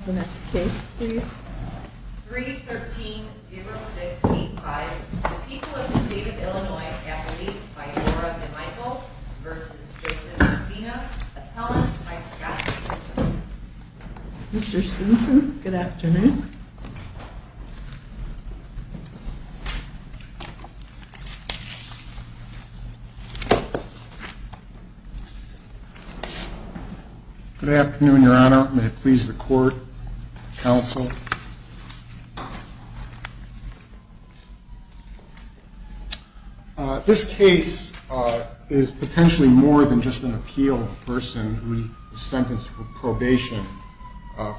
313-0685, the people of the state of Illinois, athlete by Laura DeMichael v. Joseph Messina, appellant by Sebastian Stinson. Mr. Stinson, good afternoon. Good afternoon, your honor. May it please the court, counsel. This case is potentially more than just an appeal of a person who is sentenced for probation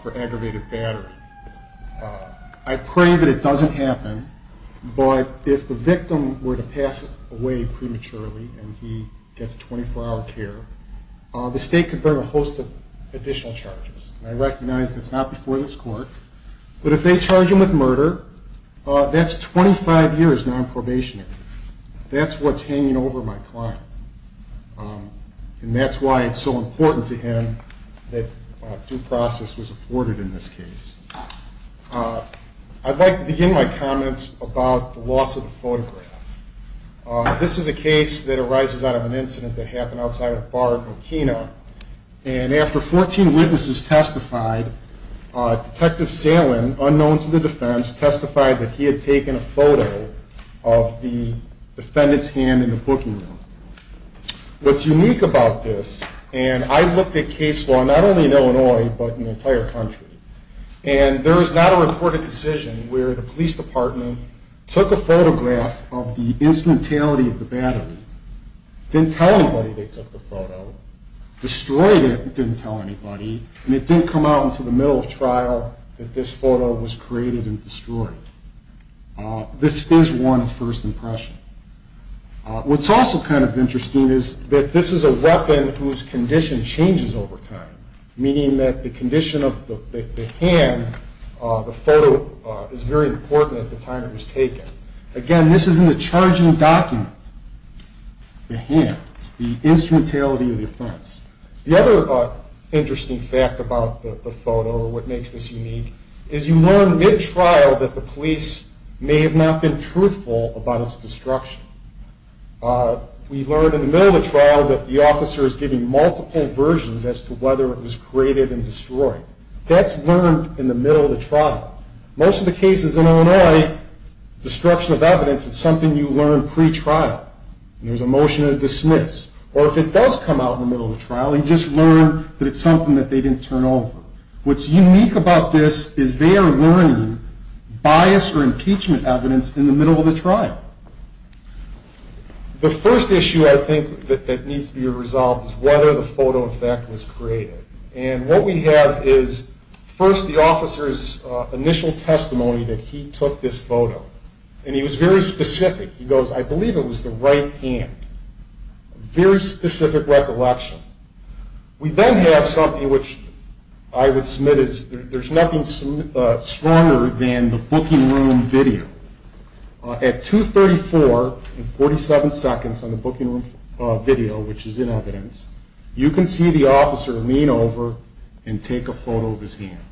for aggravated battery. I pray that it doesn't happen, but if the victim were to pass away prematurely and he gets 24-hour care, the state could bear a host of additional charges. I recognize that's not before this court, but if they charge him with murder, that's 25 years non-probationary. That's what's hanging over my client, and that's why it's so important to him that due process was afforded in this case. I'd like to begin my comments about the loss of the photograph. This is a case that arises out of an incident that happened outside a bar in Burkina, and after 14 witnesses testified, Detective Salen, unknown to the defense, testified that he had taken a photo of the defendant's hand in the booking room. What's unique about this, and I looked at case law not only in Illinois, but in the entire country, and there is not a reported decision where the police department took a photograph of the instrumentality of the battery, didn't tell anybody they took the photo, destroyed it and didn't tell anybody, and it didn't come out until the middle of trial that this photo was created and destroyed. This is one first impression. What's also kind of interesting is that this is a weapon whose condition changes over time, meaning that the condition of the hand, the photo, is very important at the time it was taken. Again, this is in the charging document, the hand. It's the instrumentality of the offense. The other interesting fact about the photo, or what makes this unique, is you learn mid-trial that the police may have not been truthful about its destruction. We learn in the middle of the trial that the officer is giving multiple versions as to whether it was created and destroyed. That's learned in the middle of the trial. Most of the cases in Illinois, destruction of evidence is something you learn pre-trial. There's a motion to dismiss, or if it does come out in the middle of the trial, you just learn that it's something that they didn't turn over. What's unique about this is they are learning bias or impeachment evidence in the middle of the trial. The first issue, I think, that needs to be resolved is whether the photo effect was created. And what we have is, first, the officer's initial testimony that he took this photo. And he was very specific. He goes, I believe it was the right hand. Very specific recollection. We then have something which I would submit is there's nothing stronger than the booking room video. At 2.34 and 47 seconds on the booking room video, which is in evidence, you can see the officer lean over and take a photo of his hand.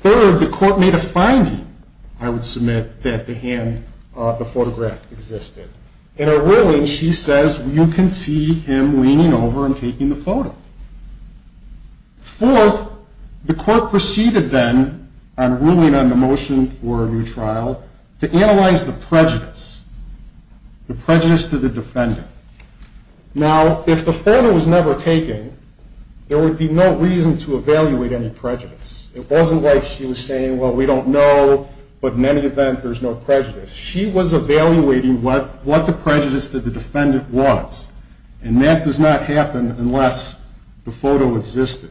Third, the court made a finding, I would submit, that the photograph existed. In a ruling, she says, you can see him leaning over and taking the photo. Fourth, the court proceeded then, on ruling on the motion for a new trial, to analyze the prejudice, the prejudice to the defendant. Now, if the photo was never taken, there would be no reason to evaluate any prejudice. It wasn't like she was saying, well, we don't know, but in any event, there's no prejudice. She was evaluating what the prejudice to the defendant was. And that does not happen unless the photo existed.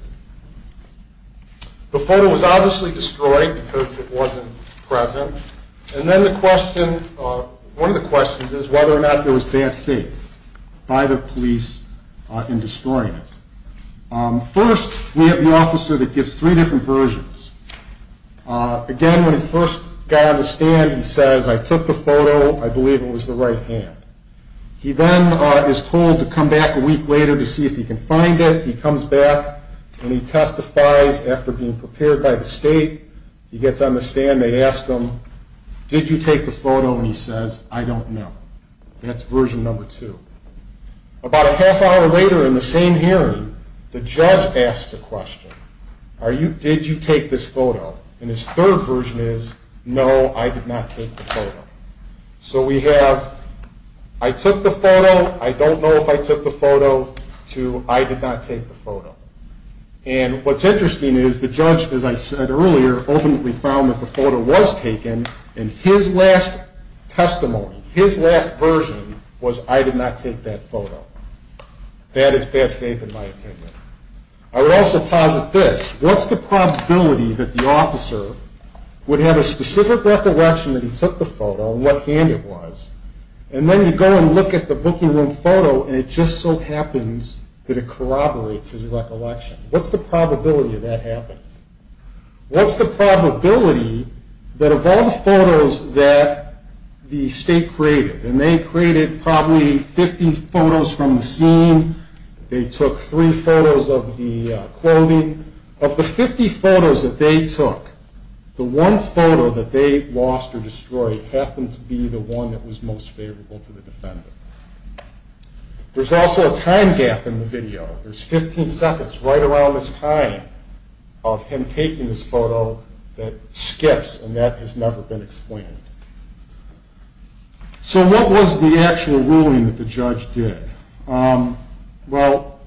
The photo was obviously destroyed because it wasn't present. And then one of the questions is whether or not there was bad faith by the police in destroying it. First, we have the officer that gives three different versions. Again, when he first got on the stand, he says, I took the photo. I believe it was the right hand. He then is told to come back a week later to see if he can find it. He comes back, and he testifies after being prepared by the state. He gets on the stand. They ask him, did you take the photo? And he says, I don't know. That's version number two. About a half hour later in the same hearing, the judge asks a question. Did you take this photo? And his third version is, no, I did not take the photo. So we have, I took the photo. I don't know if I took the photo, to I did not take the photo. And what's interesting is the judge, as I said earlier, ultimately found that the photo was taken. And his last testimony, his last version, was I did not take that photo. That is bad faith in my opinion. I would also posit this. What's the probability that the officer would have a specific recollection that he took the photo, and what hand it was, and then you go and look at the booking room photo, and it just so happens that it corroborates his recollection? What's the probability of that happening? What's the probability that of all the photos that the state created, and they created probably 50 photos from the scene. They took three photos of the clothing. Of the 50 photos that they took, the one photo that they lost or destroyed happened to be the one that was most favorable to the defendant. There's also a time gap in the video. There's 15 seconds right around this time of him taking this photo that skips, and that has never been explained. So what was the actual ruling that the judge did? Well,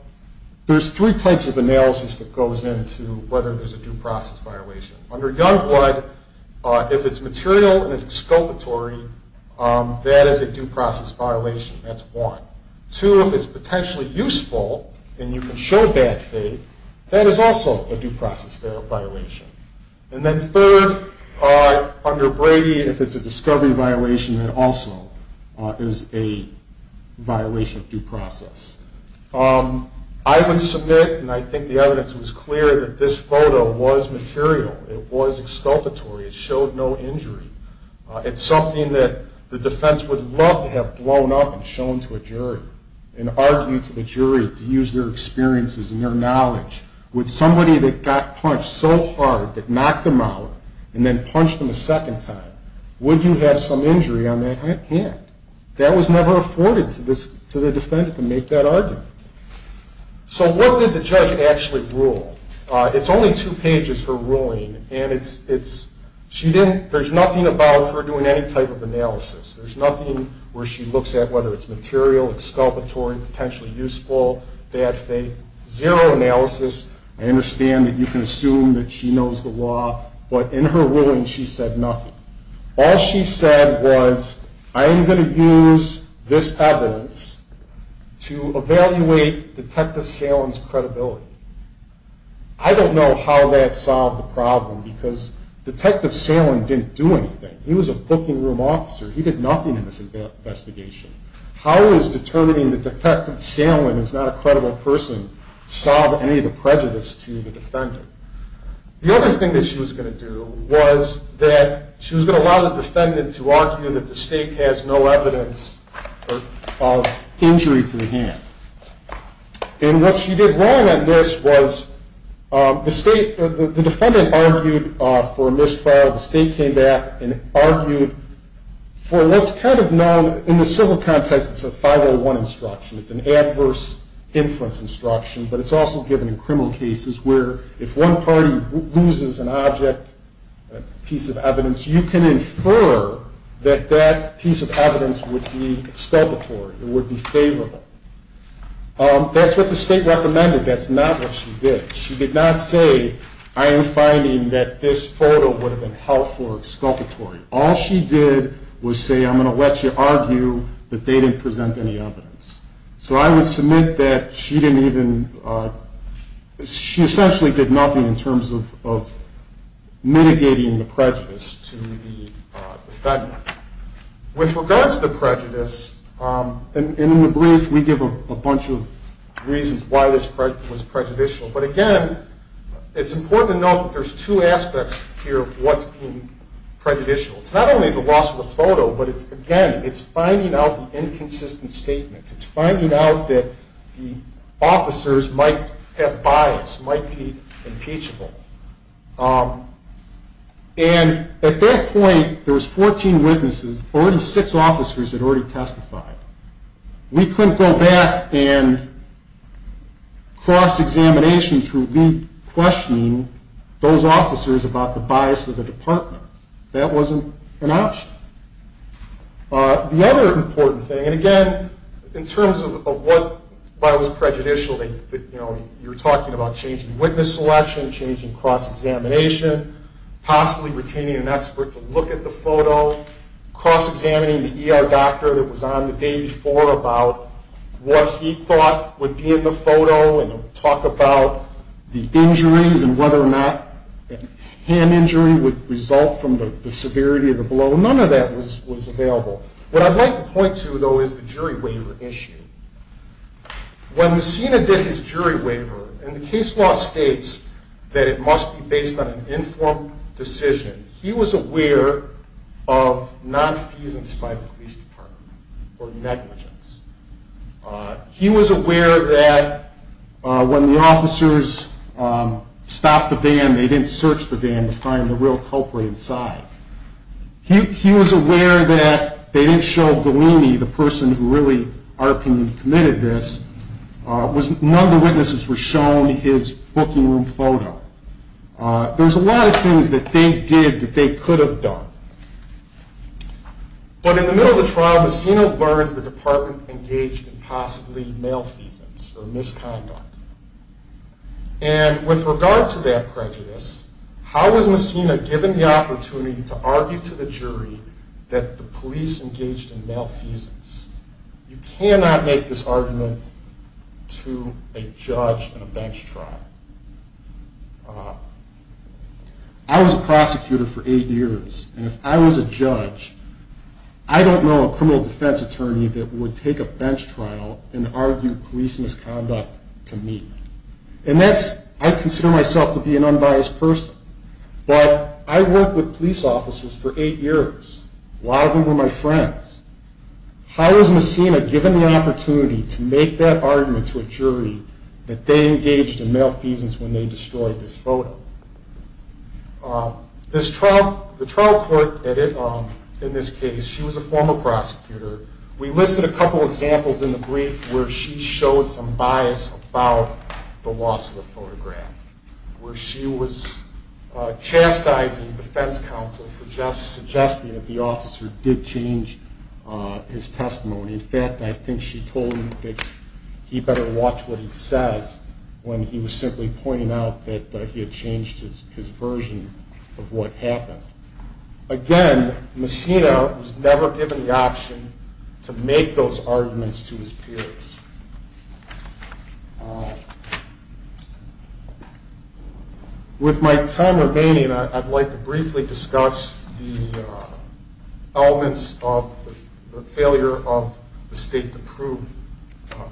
there's three types of analysis that goes into whether there's a due process violation. Under gun blood, if it's material and exculpatory, that is a due process violation. That's one. Two, if it's potentially useful and you can show bad faith, that is also a due process violation. And then third, under Brady, if it's a discovery violation, that also is a violation of due process. I would submit, and I think the evidence was clear, that this photo was material. It was exculpatory. It showed no injury. It's something that the defense would love to have blown up and shown to a jury and argued to the jury to use their experiences and their knowledge. Would somebody that got punched so hard that knocked them out and then punched them a second time, would you have some injury on that hand? That was never afforded to the defendant to make that argument. So what did the judge actually rule? It's only two pages, her ruling, and there's nothing about her doing any type of analysis. There's nothing where she looks at whether it's material, exculpatory, potentially useful, bad faith. Zero analysis. I understand that you can assume that she knows the law, but in her ruling she said nothing. All she said was, I am going to use this evidence to evaluate Detective Salen's credibility. I don't know how that solved the problem because Detective Salen didn't do anything. He was a booking room officer. He did nothing in this investigation. How is determining that Detective Salen is not a credible person solve any of the prejudice to the defendant? The other thing that she was going to do was that she was going to allow the defendant to argue that the state has no evidence of injury to the hand. And what she did wrong on this was the defendant argued for a mistrial. The state came back and argued for what's kind of known in the civil context as a 501 instruction. It's an adverse influence instruction, but it's also given in criminal cases where if one party loses an object, a piece of evidence, you can infer that that piece of evidence would be exculpatory. It would be favorable. That's what the state recommended. That's not what she did. She did not say, I am finding that this photo would have been helpful or exculpatory. All she did was say, I'm going to let you argue that they didn't present any evidence. So I would submit that she didn't even, she essentially did nothing in terms of mitigating the prejudice to the defendant. With regard to the prejudice, and in the brief we give a bunch of reasons why this was prejudicial, but again, it's important to note that there's two aspects here of what's being prejudicial. It's not only the loss of the photo, but it's, again, it's finding out the inconsistent statements. It's finding out that the officers might have bias, might be impeachable. And at that point, there was 14 witnesses. Already six officers had already testified. We couldn't go back and cross-examination through re-questioning those officers about the bias of the department. That wasn't an option. The other important thing, and again, in terms of what was prejudicial, you're talking about changing witness selection, changing cross-examination, possibly retaining an expert to look at the photo, cross-examining the ER doctor that was on the day before about what he thought would be in the photo and talk about the injuries and whether or not hand injury would result from the severity of the blow. None of that was available. What I'd like to point to, though, is the jury waiver issue. When Messina did his jury waiver, and the case law states that it must be based on an informed decision, he was aware of non-refusance by the police department or negligence. He was aware that when the officers stopped the van, they didn't search the van to find the real culprit inside. He was aware that they didn't show Galini, the person who really ARPAN committed this. None of the witnesses were shown his booking room photo. There's a lot of things that they did that they could have done. But in the middle of the trial, Messina learns the department engaged in possibly malfeasance or misconduct. And with regard to that prejudice, how was Messina given the opportunity to argue to the jury that the police engaged in malfeasance? You cannot make this argument to a judge in a bench trial. I was a prosecutor for eight years, and if I was a judge, I don't know a criminal defense attorney that would take a bench trial and argue police misconduct to me. And I consider myself to be an unbiased person. But I worked with police officers for eight years while they were my friends. How was Messina given the opportunity to make that argument to a jury that they engaged in malfeasance when they destroyed this photo? The trial court in this case, she was a former prosecutor. We listed a couple of examples in the brief where she showed some bias about the loss of the photograph. Where she was chastising defense counsel for suggesting that the officer did change his testimony. In fact, I think she told him that he better watch what he says when he was simply pointing out that he had changed his version of what happened. Again, Messina was never given the option to make those arguments to his peers. With my time remaining, I'd like to briefly discuss the elements of the failure of the state to prove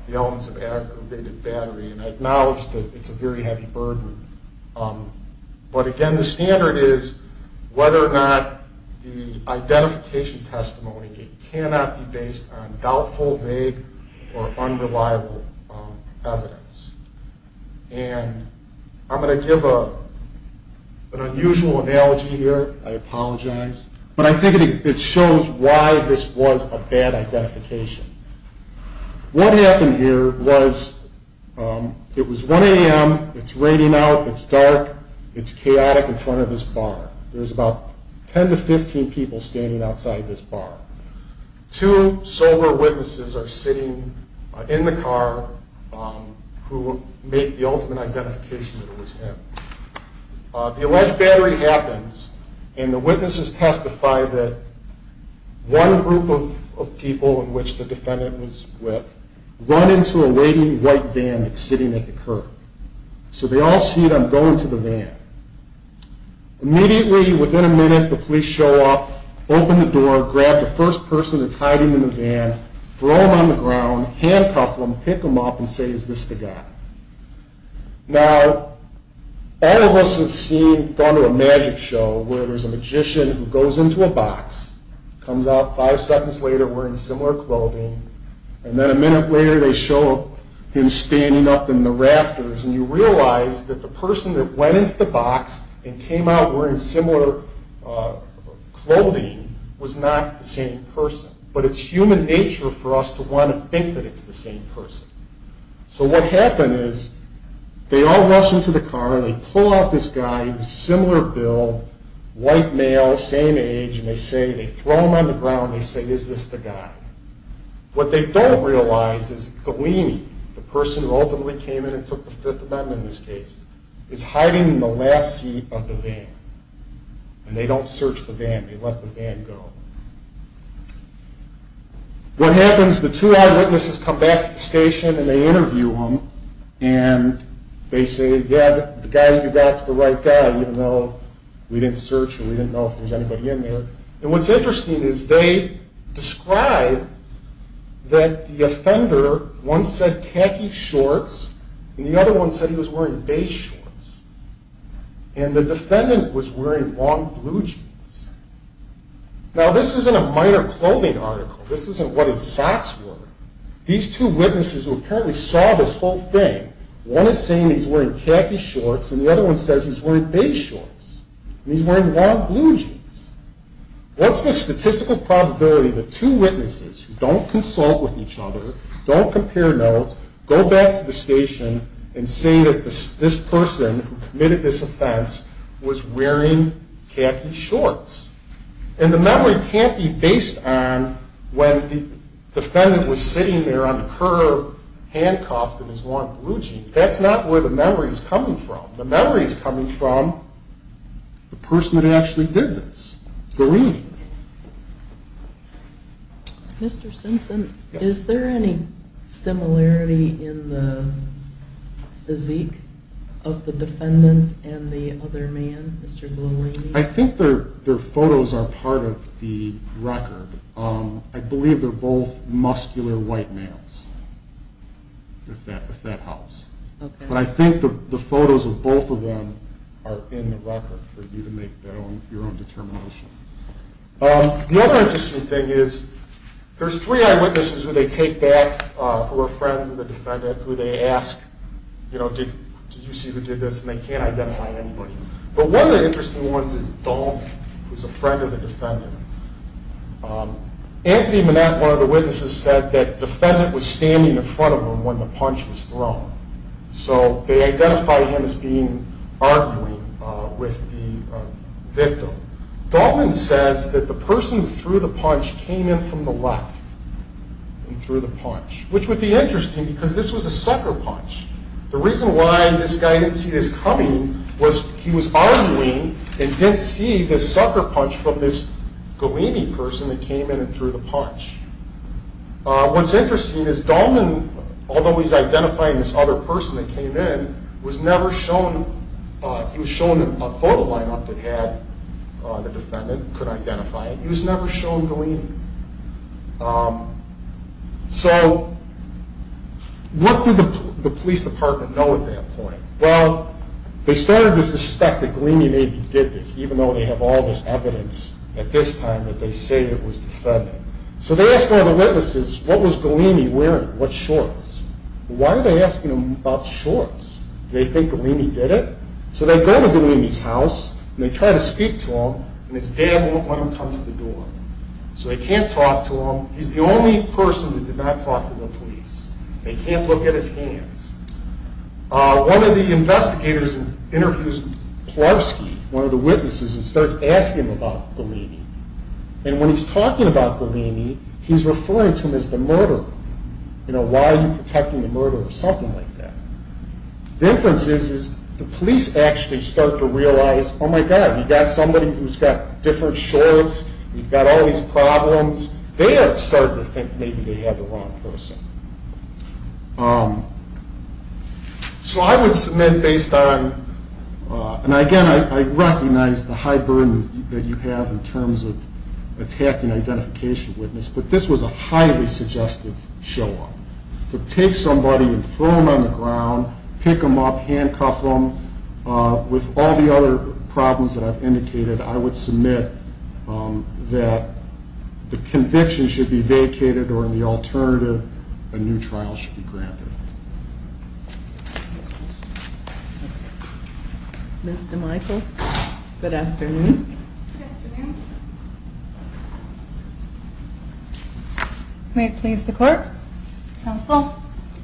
the elements of aggravated battery. And I acknowledge that it's a very heavy burden. But again, the standard is whether or not the identification testimony cannot be based on doubtful, vague, or unreliable evidence. And I'm going to give an unusual analogy here. I apologize. But I think it shows why this was a bad identification. What happened here was it was 1 a.m. It's raining out. It's dark. It's chaotic in front of this bar. There's about 10 to 15 people standing outside this bar. Two sober witnesses are sitting in the car who made the ultimate identification that it was him. The alleged battery happens, and the witnesses testify that one group of people in which the defendant was with run into a waiting white van that's sitting at the curb. So they all see them going to the van. Immediately, within a minute, the police show up, open the door, grab the first person that's hiding in the van, throw him on the ground, handcuff him, pick him up, and say, is this the guy? Now, all of us have seen, gone to a magic show where there's a magician who goes into a box, comes out five seconds later wearing similar clothing, and then a minute later they show him standing up in the rafters. And you realize that the person that went into the box and came out wearing similar clothing was not the same person. But it's human nature for us to want to think that it's the same person. So what happened is they all rush into the car, and they pull out this guy who's a similar build, white male, same age, and they throw him on the ground, and they say, is this the guy? What they don't realize is Galini, the person who ultimately came in and took the Fifth Amendment in this case, is hiding in the last seat of the van. And they don't search the van, they let the van go. What happens, the two eyewitnesses come back to the station and they interview him, and they say, yeah, the guy you got is the right guy, even though we didn't search or we didn't know if there was anybody in there. And what's interesting is they describe that the offender, one said khaki shorts, and the other one said he was wearing beige shorts. And the defendant was wearing long blue jeans. Now this isn't a minor clothing article, this isn't what his socks were. These two witnesses who apparently saw this whole thing, one is saying he's wearing khaki shorts, and the other one says he's wearing beige shorts, and he's wearing long blue jeans. What's the statistical probability that two witnesses who don't consult with each other, don't compare notes, go back to the station and say that this person who committed this offense was wearing khaki shorts? And the memory can't be based on when the defendant was sitting there on the curb, handcuffed in his long blue jeans. That's not where the memory is coming from. The memory is coming from the person that actually did this, the woman. Mr. Simpson, is there any similarity in the physique of the defendant and the other man, Mr. Blolini? I think their photos are part of the record. I believe they're both muscular white males, if that helps. But I think the photos of both of them are in the record for you to make your own determination. The other interesting thing is, there's three eyewitnesses who they take back who are friends of the defendant, who they ask, you know, did you see who did this, and they can't identify anybody. But one of the interesting ones is Dahlman, who's a friend of the defendant. Anthony Manette, one of the witnesses, said that the defendant was standing in front of him when the punch was thrown. So they identified him as being arguing with the victim. Dahlman says that the person who threw the punch came in from the left and threw the punch, which would be interesting because this was a sucker punch. The reason why this guy didn't see this coming was he was arguing and didn't see this sucker punch from this Blolini person that came in and threw the punch. What's interesting is Dahlman, although he's identifying this other person that came in, was never shown, he was shown a photo lineup that had the defendant, could identify it. He was never shown Blolini. So what did the police department know at that point? Well, they started to suspect that Golini maybe did this, even though they have all this evidence at this time that they say it was the defendant. So they asked all the witnesses, what was Golini wearing? What shorts? Why are they asking them about shorts? Do they think Golini did it? So they go to Golini's house and they try to speak to him, and his dad won't let him come to the door. So they can't talk to him. He's the only person that did not talk to the police. They can't look at his hands. One of the investigators interviews Plarski, one of the witnesses, and starts asking him about Golini. And when he's talking about Golini, he's referring to him as the murderer. You know, why are you protecting the murderer? Something like that. The difference is the police actually start to realize, oh my God, you've got somebody who's got different shorts. You've got all these problems. They are starting to think maybe they have the wrong person. So I would submit based on, and again, I recognize the high burden that you have in terms of attacking an identification witness, but this was a highly suggestive show-off. To take somebody and throw them on the ground, pick them up, handcuff them, with all the other problems that I've indicated, I would submit that the conviction should be vacated or, in the alternative, a new trial should be granted. Ms. DeMichel, good afternoon. Good afternoon. May it please the Court, Counsel,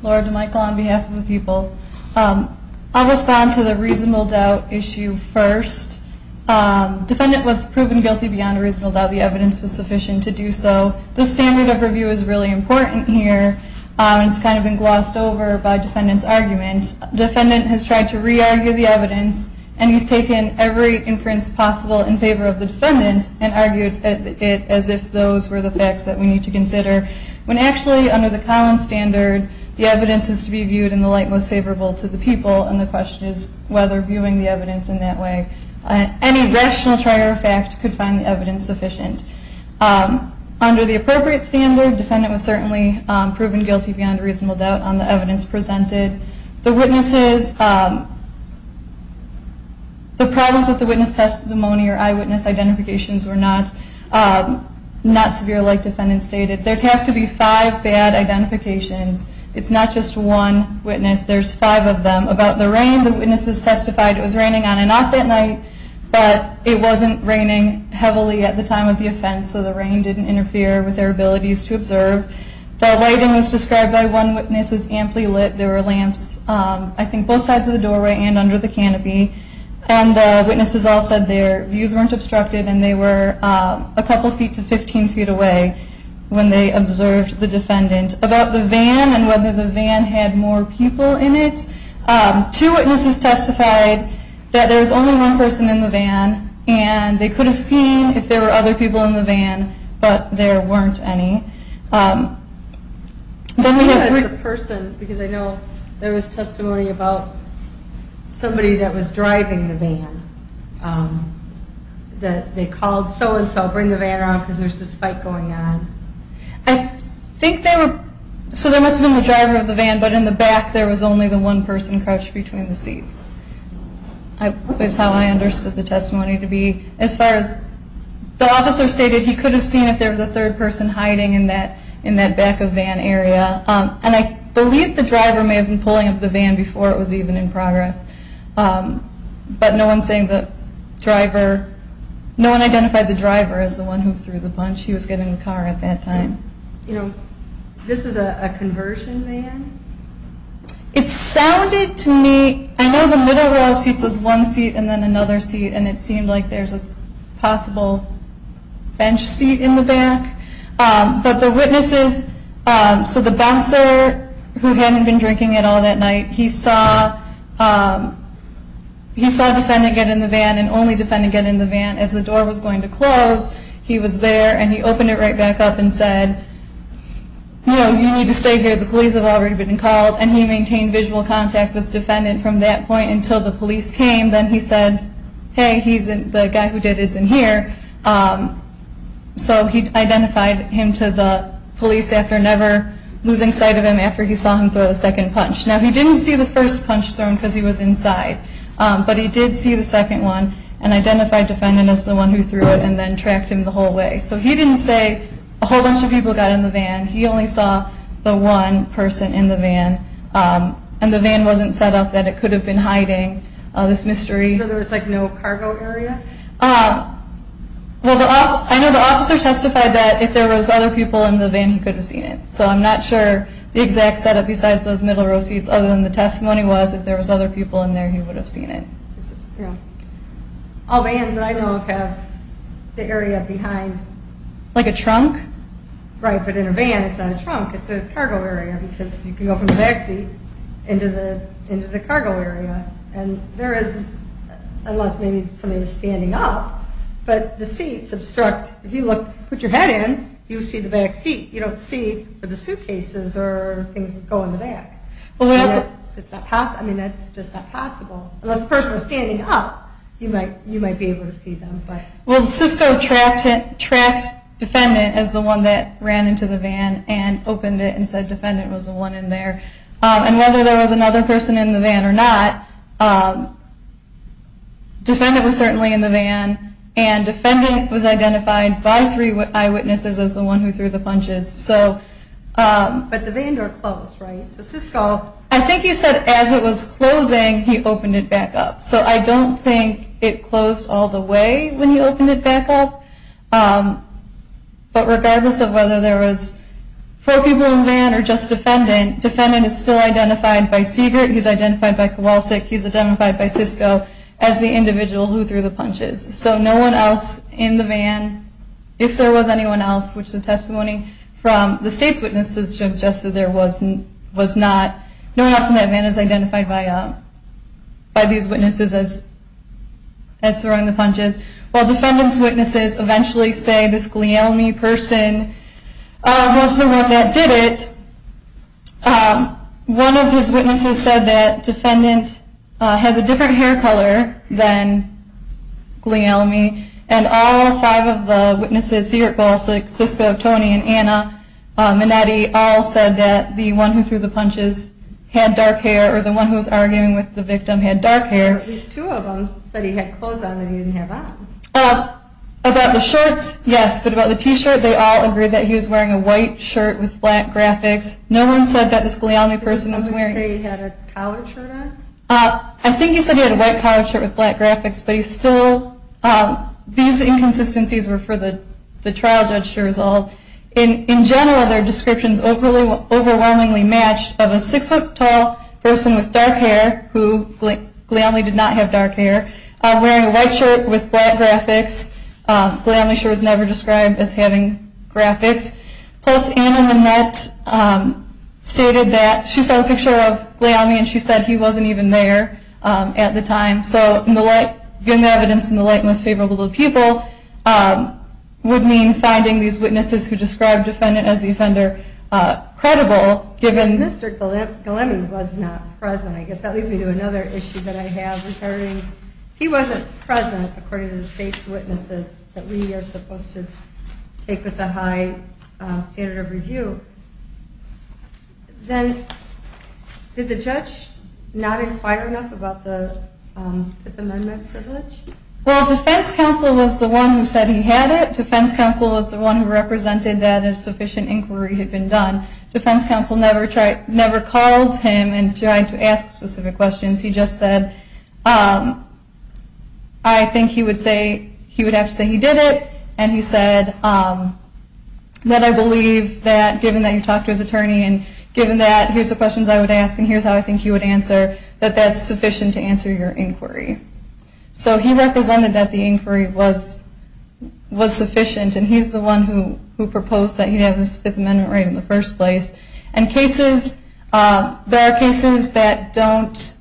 Laura DeMichel on behalf of the people. I'll respond to the reasonable doubt issue first. Defendant was proven guilty beyond reasonable doubt. The evidence was sufficient to do so. The standard of review is really important here. It's kind of been glossed over by defendant's argument. Defendant has tried to re-argue the evidence, and he's taken every inference possible in favor of the defendant and argued it as if those were the facts that we need to consider. When actually under the Collins standard, the evidence is to be viewed in the light most favorable to the people, and the question is whether viewing the evidence in that way, any rational trier of fact could find the evidence sufficient. Under the appropriate standard, defendant was certainly proven guilty beyond reasonable doubt on the evidence presented. The witnesses, the problems with the witness testimony or eyewitness identifications were not severe like defendant stated. There have to be five bad identifications. It's not just one witness. There's five of them. About the rain, the witnesses testified it was raining on and off that night, but it wasn't raining heavily at the time of the offense, so the rain didn't interfere with their abilities to observe. The lighting was described by one witness as amply lit. There were lamps, I think, both sides of the doorway and under the canopy, and the witnesses all said their views weren't obstructed and they were a couple feet to 15 feet away when they observed the defendant. About the van and whether the van had more people in it, two witnesses testified that there was only one person in the van and they could have seen if there were other people in the van, but there weren't any. Then we have the person, because I know there was testimony about somebody that was driving the van that they called so-and-so, bring the van around because there's this fight going on. I think they were, so there must have been the driver of the van, but in the back there was only the one person crouched between the seats, is how I understood the testimony to be. As far as the officer stated, he could have seen if there was a third person hiding in that back of van area, and I believe the driver may have been pulling up the van before it was even in progress, but no one identified the driver as the one who threw the punch. He was getting in the car at that time. This is a conversion van? It sounded to me, I know the middle row of seats was one seat and then another seat, and it seemed like there's a possible bench seat in the back, but the witnesses, so the bouncer who hadn't been drinking at all that night, he saw a defendant get in the van and only defendant get in the van as the door was going to close. He was there, and he opened it right back up and said, you know, you need to stay here. The police have already been called, and he maintained visual contact with the defendant from that point until the police came. Then he said, hey, the guy who did it isn't here. So he identified him to the police after never losing sight of him after he saw him throw the second punch. Now, he didn't see the first punch thrown because he was inside, but he did see the second one and identified defendant as the one who threw it and then tracked him the whole way. So he didn't say a whole bunch of people got in the van. He only saw the one person in the van, and the van wasn't set up that it could have been hiding this mystery. So there was, like, no cargo area? Well, I know the officer testified that if there was other people in the van, he could have seen it. So I'm not sure the exact setup besides those middle row seats other than the testimony was if there was other people in there, he would have seen it. Yeah. All vans that I know of have the area behind. Like a trunk? Right, but in a van, it's not a trunk. It's a cargo area because you can go from the back seat into the cargo area. And there is, unless maybe somebody was standing up, but the seats obstruct. If you look, put your head in, you'll see the back seat. You don't see the suitcases or things that go in the back. I mean, that's just not possible. Unless the person was standing up, you might be able to see them. Well, Cisco tracked Defendant as the one that ran into the van and opened it and said Defendant was the one in there. And whether there was another person in the van or not, Defendant was certainly in the van, and Defendant was identified by three eyewitnesses as the one who threw the punches. But the van door closed, right? So Cisco, I think he said as it was closing, he opened it back up. So I don't think it closed all the way when he opened it back up. But regardless of whether there was four people in the van or just Defendant, Defendant is still identified by Siegert, he's identified by Kowalsik, he's identified by Cisco as the individual who threw the punches. So no one else in the van, if there was anyone else, which the testimony from the state's witnesses suggested there was not, no one else in that van is identified by these witnesses as throwing the punches. While Defendant's witnesses eventually say this Glealmie person was the one that did it, one of his witnesses said that Defendant has a different hair color than Glealmie, and all five of the witnesses, Siegert, Kowalsik, Cisco, Tony, and Anna Minetti, all said that the one who threw the punches had dark hair, or the one who was arguing with the victim had dark hair. At least two of them said he had clothes on that he didn't have on. About the shirts, yes, but about the T-shirt, they all agreed that he was wearing a white shirt with black graphics. No one said that this Glealmie person was wearing... Did someone say he had a collared shirt on? I think he said he had a white collared shirt with black graphics, but he still, these inconsistencies were for the trial judge to resolve. In general, their descriptions overwhelmingly matched of a six-foot-tall person with dark hair, who Glealmie did not have dark hair, wearing a white shirt with black graphics. Glealmie sure was never described as having graphics. Plus, Anna Minetti stated that... She saw a picture of Glealmie, and she said he wasn't even there at the time. So, in the light... Given the evidence in the light and most favorable of the people, would mean finding these witnesses who described the defendant as the offender credible, given... Mr. Glealmie was not present. I guess that leads me to another issue that I have in terms of... that we are supposed to take with a high standard of review. Then, did the judge not inquire enough about the Fifth Amendment privilege? Well, defense counsel was the one who said he had it. Defense counsel was the one who represented that a sufficient inquiry had been done. Defense counsel never called him and tried to ask specific questions. He just said, I think he would have to say he did it, and he said that I believe that given that you talked to his attorney, and given that here's the questions I would ask, and here's how I think he would answer, that that's sufficient to answer your inquiry. So, he represented that the inquiry was sufficient, and he's the one who proposed that he have this Fifth Amendment right in the first place. There are cases that don't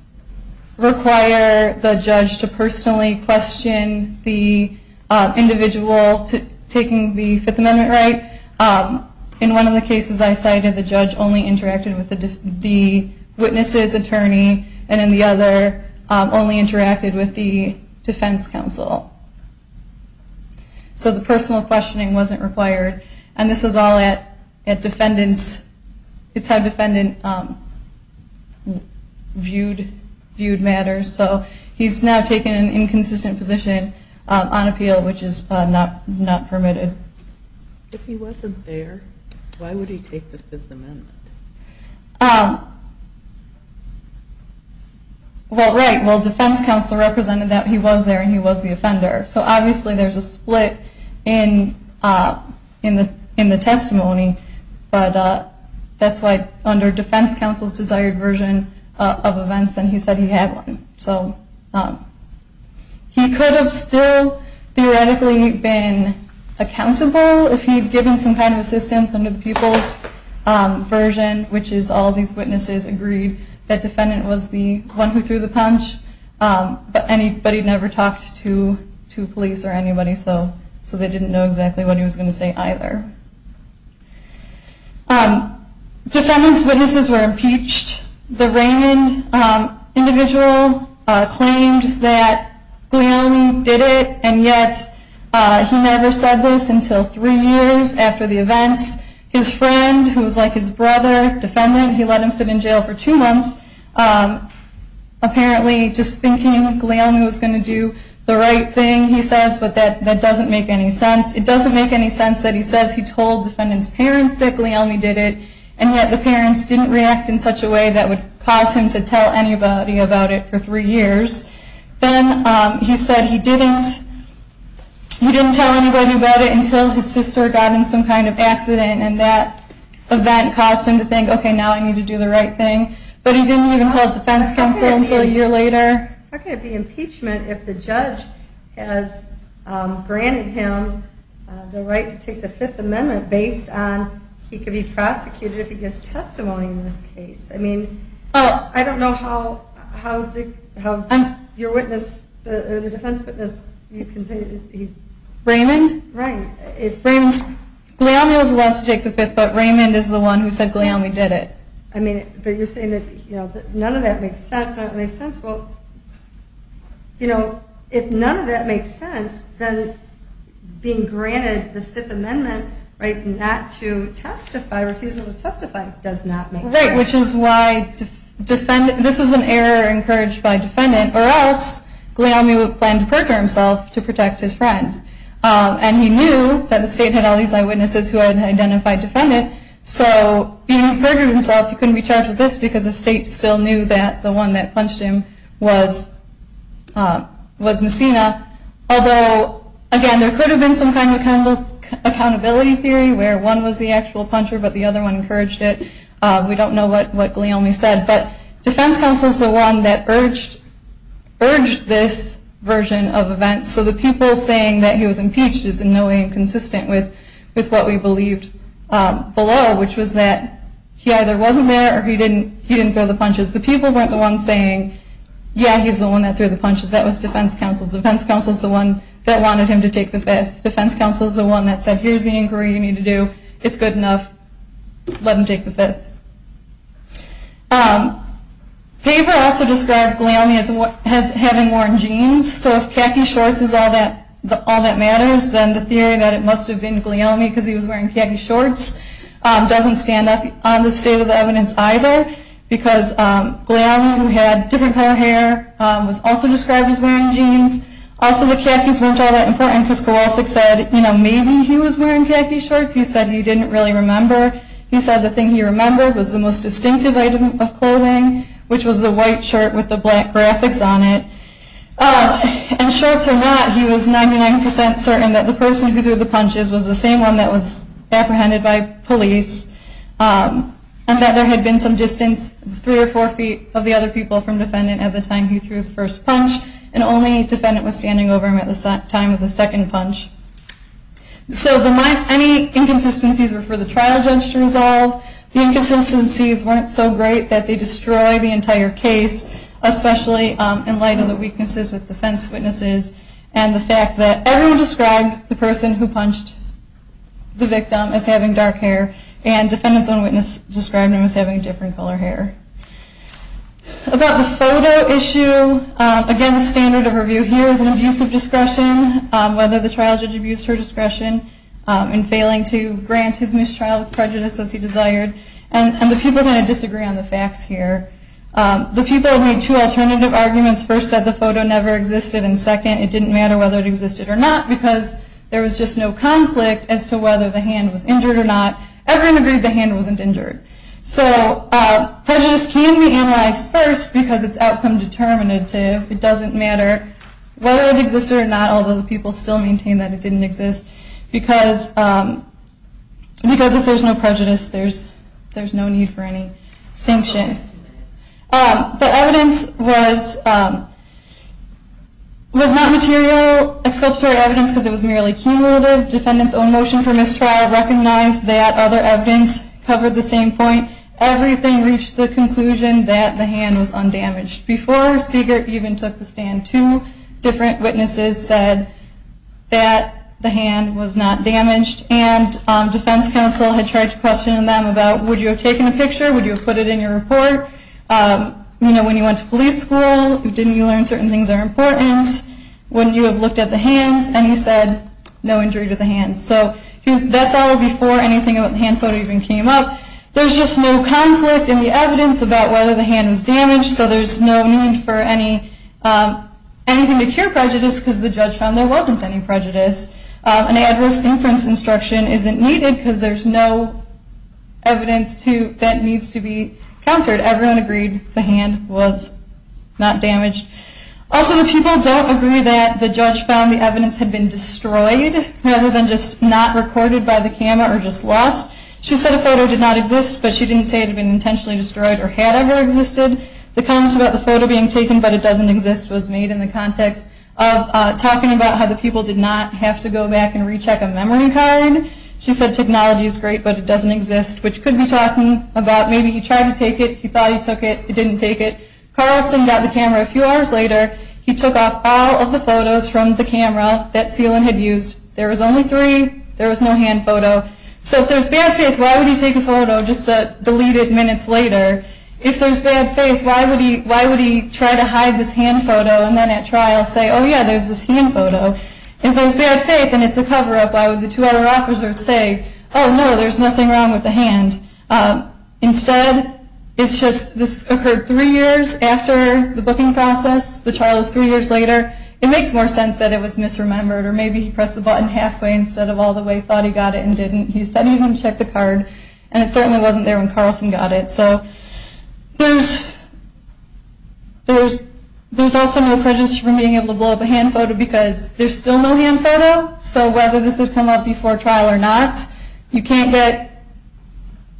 require the judge to personally question the individual taking the Fifth Amendment right. In one of the cases I cited, the judge only interacted with the witness's attorney, and in the other, only interacted with the defense counsel. So, the personal questioning wasn't required. And this was all at defendant's, it's how defendant viewed matters. So, he's now taken an inconsistent position on appeal, which is not permitted. If he wasn't there, why would he take the Fifth Amendment? Well, right. Well, defense counsel represented that he was there, and he was the offender. So, obviously there's a split in the testimony, but that's why under defense counsel's desired version of events, then he said he had one. So, he could have still theoretically been accountable, if he had given some kind of assistance under the people's version, which is all these witnesses agreed that defendant was the one who threw the punch, but he never talked to police or anybody, so they didn't know exactly what he was going to say either. Defendant's witnesses were impeached. The Raymond individual claimed that Guglielmi did it, and yet he never said this until three years after the events. His friend, who was like his brother, defendant, he let him sit in jail for two months, apparently just thinking Guglielmi was going to do the right thing, he says, but that doesn't make any sense. It doesn't make any sense that he says he told defendant's parents that Guglielmi did it, and yet the parents didn't react in such a way that would cause him to tell anybody about it for three years. Then he said he didn't tell anybody about it until his sister got in some kind of accident, and that event caused him to think, okay, now I need to do the right thing, but he didn't even tell defense counsel until a year later. How could it be impeachment if the judge has granted him the right to take the Fifth Amendment based on he could be prosecuted if he gives testimony in this case? I mean, I don't know how your witness, the defense witness, you can say that he's... Guglielmi was allowed to take the Fifth, but Raymond is the one who said Guglielmi did it. But you're saying that none of that makes sense. If none of that makes sense, then being granted the Fifth Amendment, not to testify, refusing to testify, does not make sense. Right, which is why this is an error encouraged by defendant, or else Guglielmi would plan to perjure himself to protect his friend. And he knew that the state had all these eyewitnesses who had an identified defendant, so being perjured himself, he couldn't be charged with this because the state still knew that the one that punched him was Messina. Although, again, there could have been some kind of accountability theory where one was the actual puncher, but the other one encouraged it. We don't know what Guglielmi said, but defense counsel is the one that urged this version of events. So the people saying that he was impeached is in no way inconsistent with what we believed below, which was that he either wasn't there or he didn't throw the punches. The people weren't the ones saying, yeah, he's the one that threw the punches, that was defense counsel. Defense counsel is the one that wanted him to take the Fifth. Defense counsel is the one that said, here's the inquiry you need to do. It's good enough. Let him take the Fifth. Paver also described Guglielmi as having worn jeans. So if khaki shorts is all that matters, then the theory that it must have been Guglielmi because he was wearing khaki shorts doesn't stand up on the state of the evidence either because Guglielmi, who had different color hair, was also described as wearing jeans. Also the khakis weren't all that important because Kowalski said maybe he was wearing khaki shorts. He said he didn't really remember. He said the thing he remembered was the most distinctive item of clothing, which was the white shirt with the black graphics on it. And shorts or not, he was 99% certain that the person who threw the punches was the same one that was apprehended by police and that there had been some distance, three or four feet, of the other people from defendant at the time he threw the first punch and only defendant was standing over him at the time of the second punch. So any inconsistencies were for the trial judge to resolve. The inconsistencies weren't so great that they destroy the entire case, especially in light of the weaknesses with defense witnesses and the fact that everyone described the person who punched the victim as having dark hair and defendants on witness described him as having different color hair. About the photo issue, again the standard of review here is an abuse of discretion, whether the trial judge abused her discretion in failing to grant his mistrial with prejudice as he desired. And the people are going to disagree on the facts here. The people made two alternative arguments. First said the photo never existed and second it didn't matter whether it existed or not because there was just no conflict as to whether the hand was injured or not. Everyone agreed the hand wasn't injured. So prejudice can be analyzed first because it's outcome determinative. It doesn't matter whether it existed or not, although the people still maintain that it didn't exist because if there's no prejudice there's no need for any sanction. The evidence was not material exculpatory evidence because it was merely cumulative. Defendant's own motion for mistrial recognized that other evidence covered the same point. Everything reached the conclusion that the hand was undamaged. Before Siegert even took the stand, two different witnesses said that the hand was not damaged and defense counsel had tried to question them about would you have taken a picture, would you have put it in your report? When you went to police school, didn't you learn certain things are important? Wouldn't you have looked at the hands? That's all before anything about the hand photo even came up. There's just no conflict in the evidence about whether the hand was damaged so there's no need for anything to cure prejudice because the judge found there wasn't any prejudice. An adverse inference instruction isn't needed because there's no evidence that needs to be countered. Everyone agreed the hand was not damaged. Also the people don't agree that the judge found the evidence had been destroyed rather than just not recorded by the camera or just lost. She said a photo did not exist but she didn't say it had been intentionally destroyed or had ever existed. The comment about the photo being taken but it doesn't exist was made in the context of talking about how the people did not have to go back and recheck a memory card. She said technology is great but it doesn't exist which could be talking about maybe he tried to take it, he thought he took it, he didn't take it. Carlson got the camera a few hours later, he took off all of the photos from the camera that Seelan had used. There was only three, there was no hand photo. So if there's bad faith why would he take a photo just a deleted minutes later? If there's bad faith why would he try to hide this hand photo and then at trial say oh yeah there's this hand photo. If there's bad faith and it's a cover up why would the two other officers say oh no there's nothing wrong with the hand. Instead it's just this occurred three years after the booking process, the trial was three years later, it makes more sense that it was misremembered or maybe he pressed the button halfway instead of all the way, thought he got it and didn't. He said he wouldn't check the card and it certainly wasn't there when Carlson got it. There's also no prejudice for being able to blow up a hand photo because there's still no hand photo. So whether this would come up before trial or not, you can't get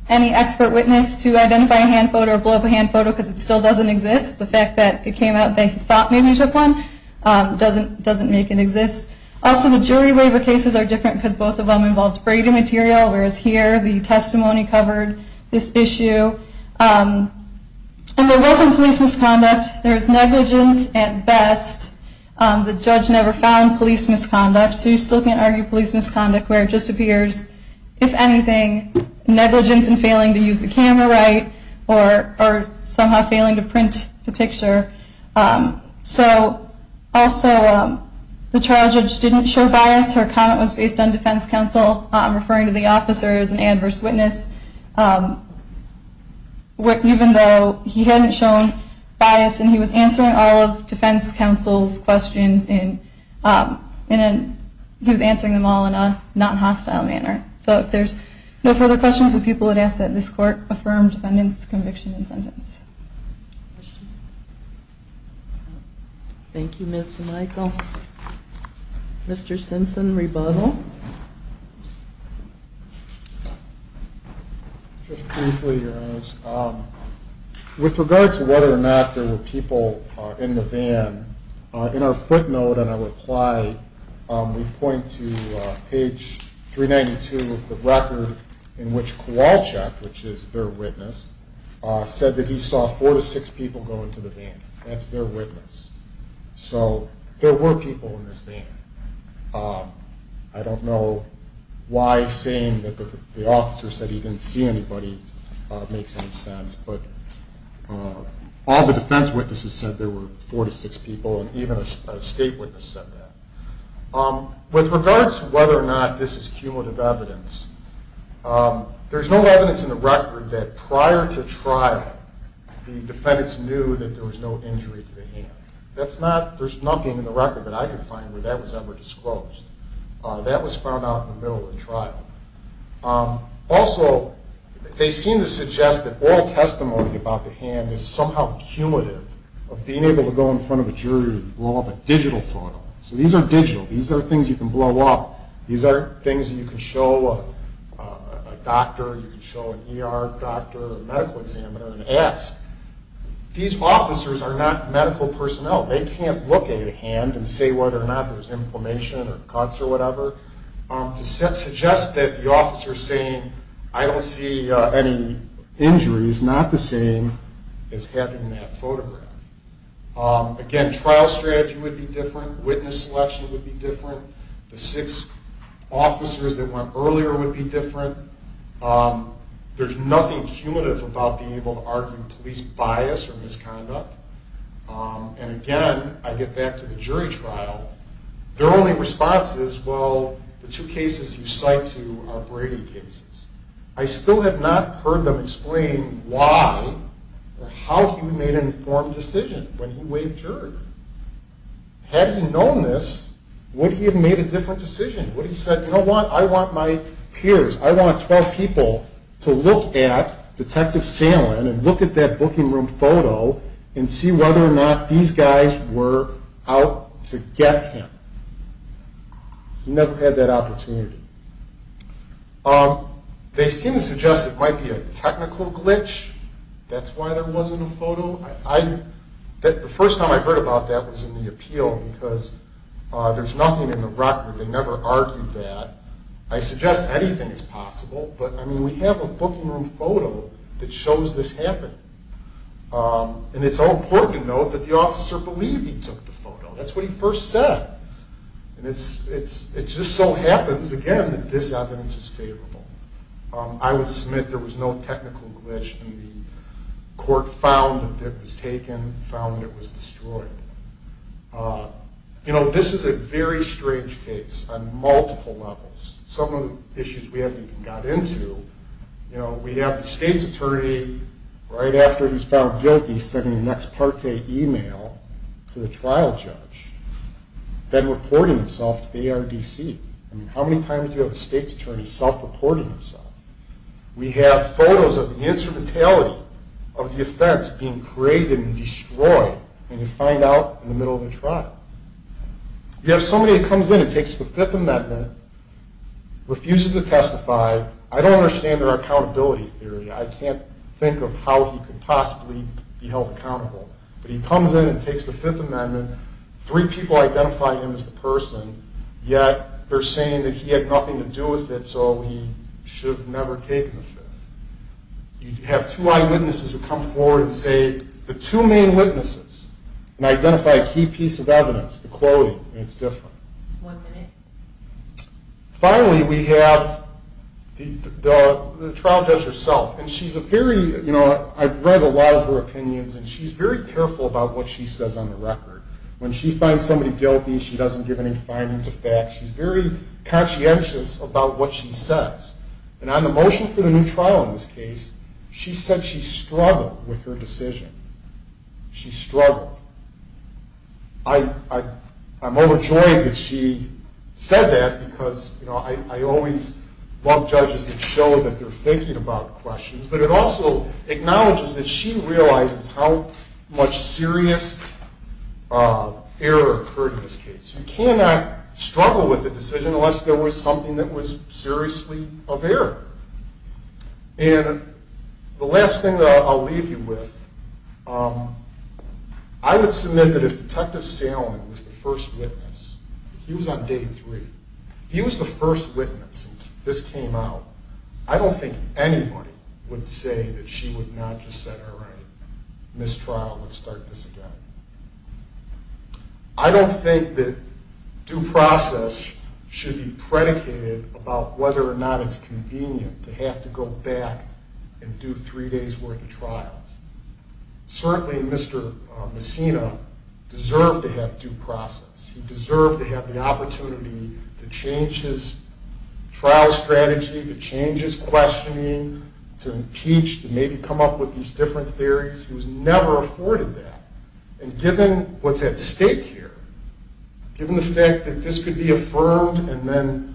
any expert witness to identify a hand photo or blow up a hand photo because it still doesn't exist. The fact that it came out that he thought maybe he took one doesn't make it exist. Also the jury waiver cases are different because both of them involved braiding material whereas here the testimony covered this issue. And there wasn't police misconduct, there was negligence at best. The judge never found police misconduct so you still can't argue police misconduct where it just appears, if anything, negligence in failing to use the camera right or somehow failing to print the picture. So also the trial judge didn't show bias. Her comment was based on defense counsel referring to the officer as an adverse witness, even though he hadn't shown bias and he was answering all of defense counsel's questions and he was answering them all in a non-hostile manner. So if there's no further questions, the people would ask that this court affirm defendant's conviction and sentence. Thank you, Ms. DeMichel. Mr. Simpson, rebuttal. Just briefly, Your Honors, with regard to whether or not there were people in the van, in our footnote and our reply, we point to page 392 of the record in which Kowalczyk, which is their witness, said that he saw four to six people go into the van. That's their witness. So there were people in this van. I don't know why saying that the officer said he didn't see anybody makes any sense, but all the defense witnesses said there were four to six people and even a state witness said that. With regard to whether or not this is cumulative evidence, there's no evidence in the record that prior to trial, the defendants knew that there was no injury to the hand. There's nothing in the record that I could find where that was ever disclosed. That was found out in the middle of the trial. Also, they seem to suggest that all testimony about the hand is somehow cumulative of being able to go in front of a jury and blow up a digital photo. So these are digital. These are things you can blow up. These are things you can show a doctor, you can show an ER doctor, a medical examiner and ask. These officers are not medical personnel. They can't look at a hand and say whether or not there's inflammation or cuts or whatever. To suggest that the officer saying I don't see any injuries is not the same as having that photograph. Again, trial strategy would be different. Witness selection would be different. The six officers that went earlier would be different. There's nothing cumulative about being able to argue police bias or misconduct. And again, I get back to the jury trial. Their only response is, well, the two cases you cite are Brady cases. I still have not heard them explain why or how he made an informed decision when he waived jury. Had he known this, would he have made a different decision? Would he have said, you know what, I want my peers, I want 12 people to look at Detective Salen and look at that booking room photo and see whether or not these guys were out to get him. He never had that opportunity. They seem to suggest it might be a technical glitch. That's why there wasn't a photo. The first time I heard about that was in the appeal because there's nothing in the record. They never argued that. I suggest anything is possible, but we have a booking room photo that shows this happened. And it's so important to note that the officer believed he took the photo. That's what he first said. It just so happens, again, that this evidence is favorable. I would submit there was no technical glitch and the court found that it was taken, found that it was destroyed. This is a very strange case on multiple levels. Some of the issues we haven't even got into. We have the state's attorney right after he's found guilty sending an ex parte email to the trial judge then reporting himself to the ARDC. How many times do you have a state's attorney self-reporting himself? We have photos of the instrumentality of the offense being created and destroyed and you find out in the middle of the trial. You have somebody that comes in and takes the Fifth Amendment, refuses to testify. I don't understand their accountability theory. I can't think of how he could possibly be held accountable. But he comes in and takes the Fifth Amendment, three people identify him as the person, yet they're saying that he had nothing to do with it so he should have never taken the Fifth. You have two eyewitnesses who come forward and say the two main witnesses and identify a key piece of evidence, the clothing, and it's different. Finally, we have the trial judge herself. I've read a lot of her opinions and she's very careful about what she says on the record. When she finds somebody guilty, she doesn't give any findings of fact. She's very conscientious about what she says. On the motion for the new trial in this case, she said she struggled with her decision. She struggled. I'm overjoyed that she said that because I always love judges that show that they're thinking about questions, but it also acknowledges that she realizes how much serious error occurred in this case. You cannot struggle with a decision unless there was something that was seriously of error. The last thing that I'll leave you with, I would submit that if Detective Salmon was the first witness, he was on day three, if he was the first witness and this came out, I don't think anybody would say that she would not have just said, all right, mistrial, let's start this again. I don't think that due process should be predicated about whether or not it's convenient to have to go back and do three days' worth of trials. Certainly Mr. Messina deserved to have due process. He deserved to have the opportunity to change his trial strategy, to change his questioning, to impeach, to maybe come up with these different theories. He was never afforded that, and given what's at stake here, given the fact that this could be affirmed and then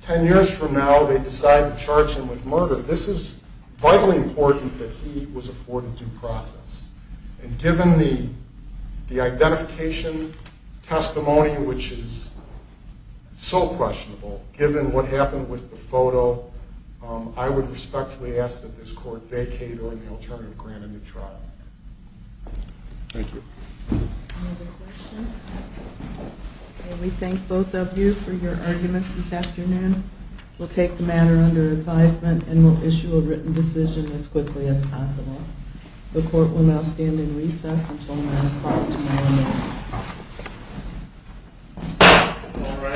ten years from now they decide to charge him with murder, this is vitally important that he was afforded due process. And given the identification testimony, which is so questionable, given what happened with the photo, I would respectfully ask that this court vacate or the alternative grant him the trial. Thank you. We thank both of you for your arguments this afternoon. We'll take the matter under advisement and we'll issue a written decision as quickly as possible. The court will now stand in recess until 9 o'clock tomorrow morning.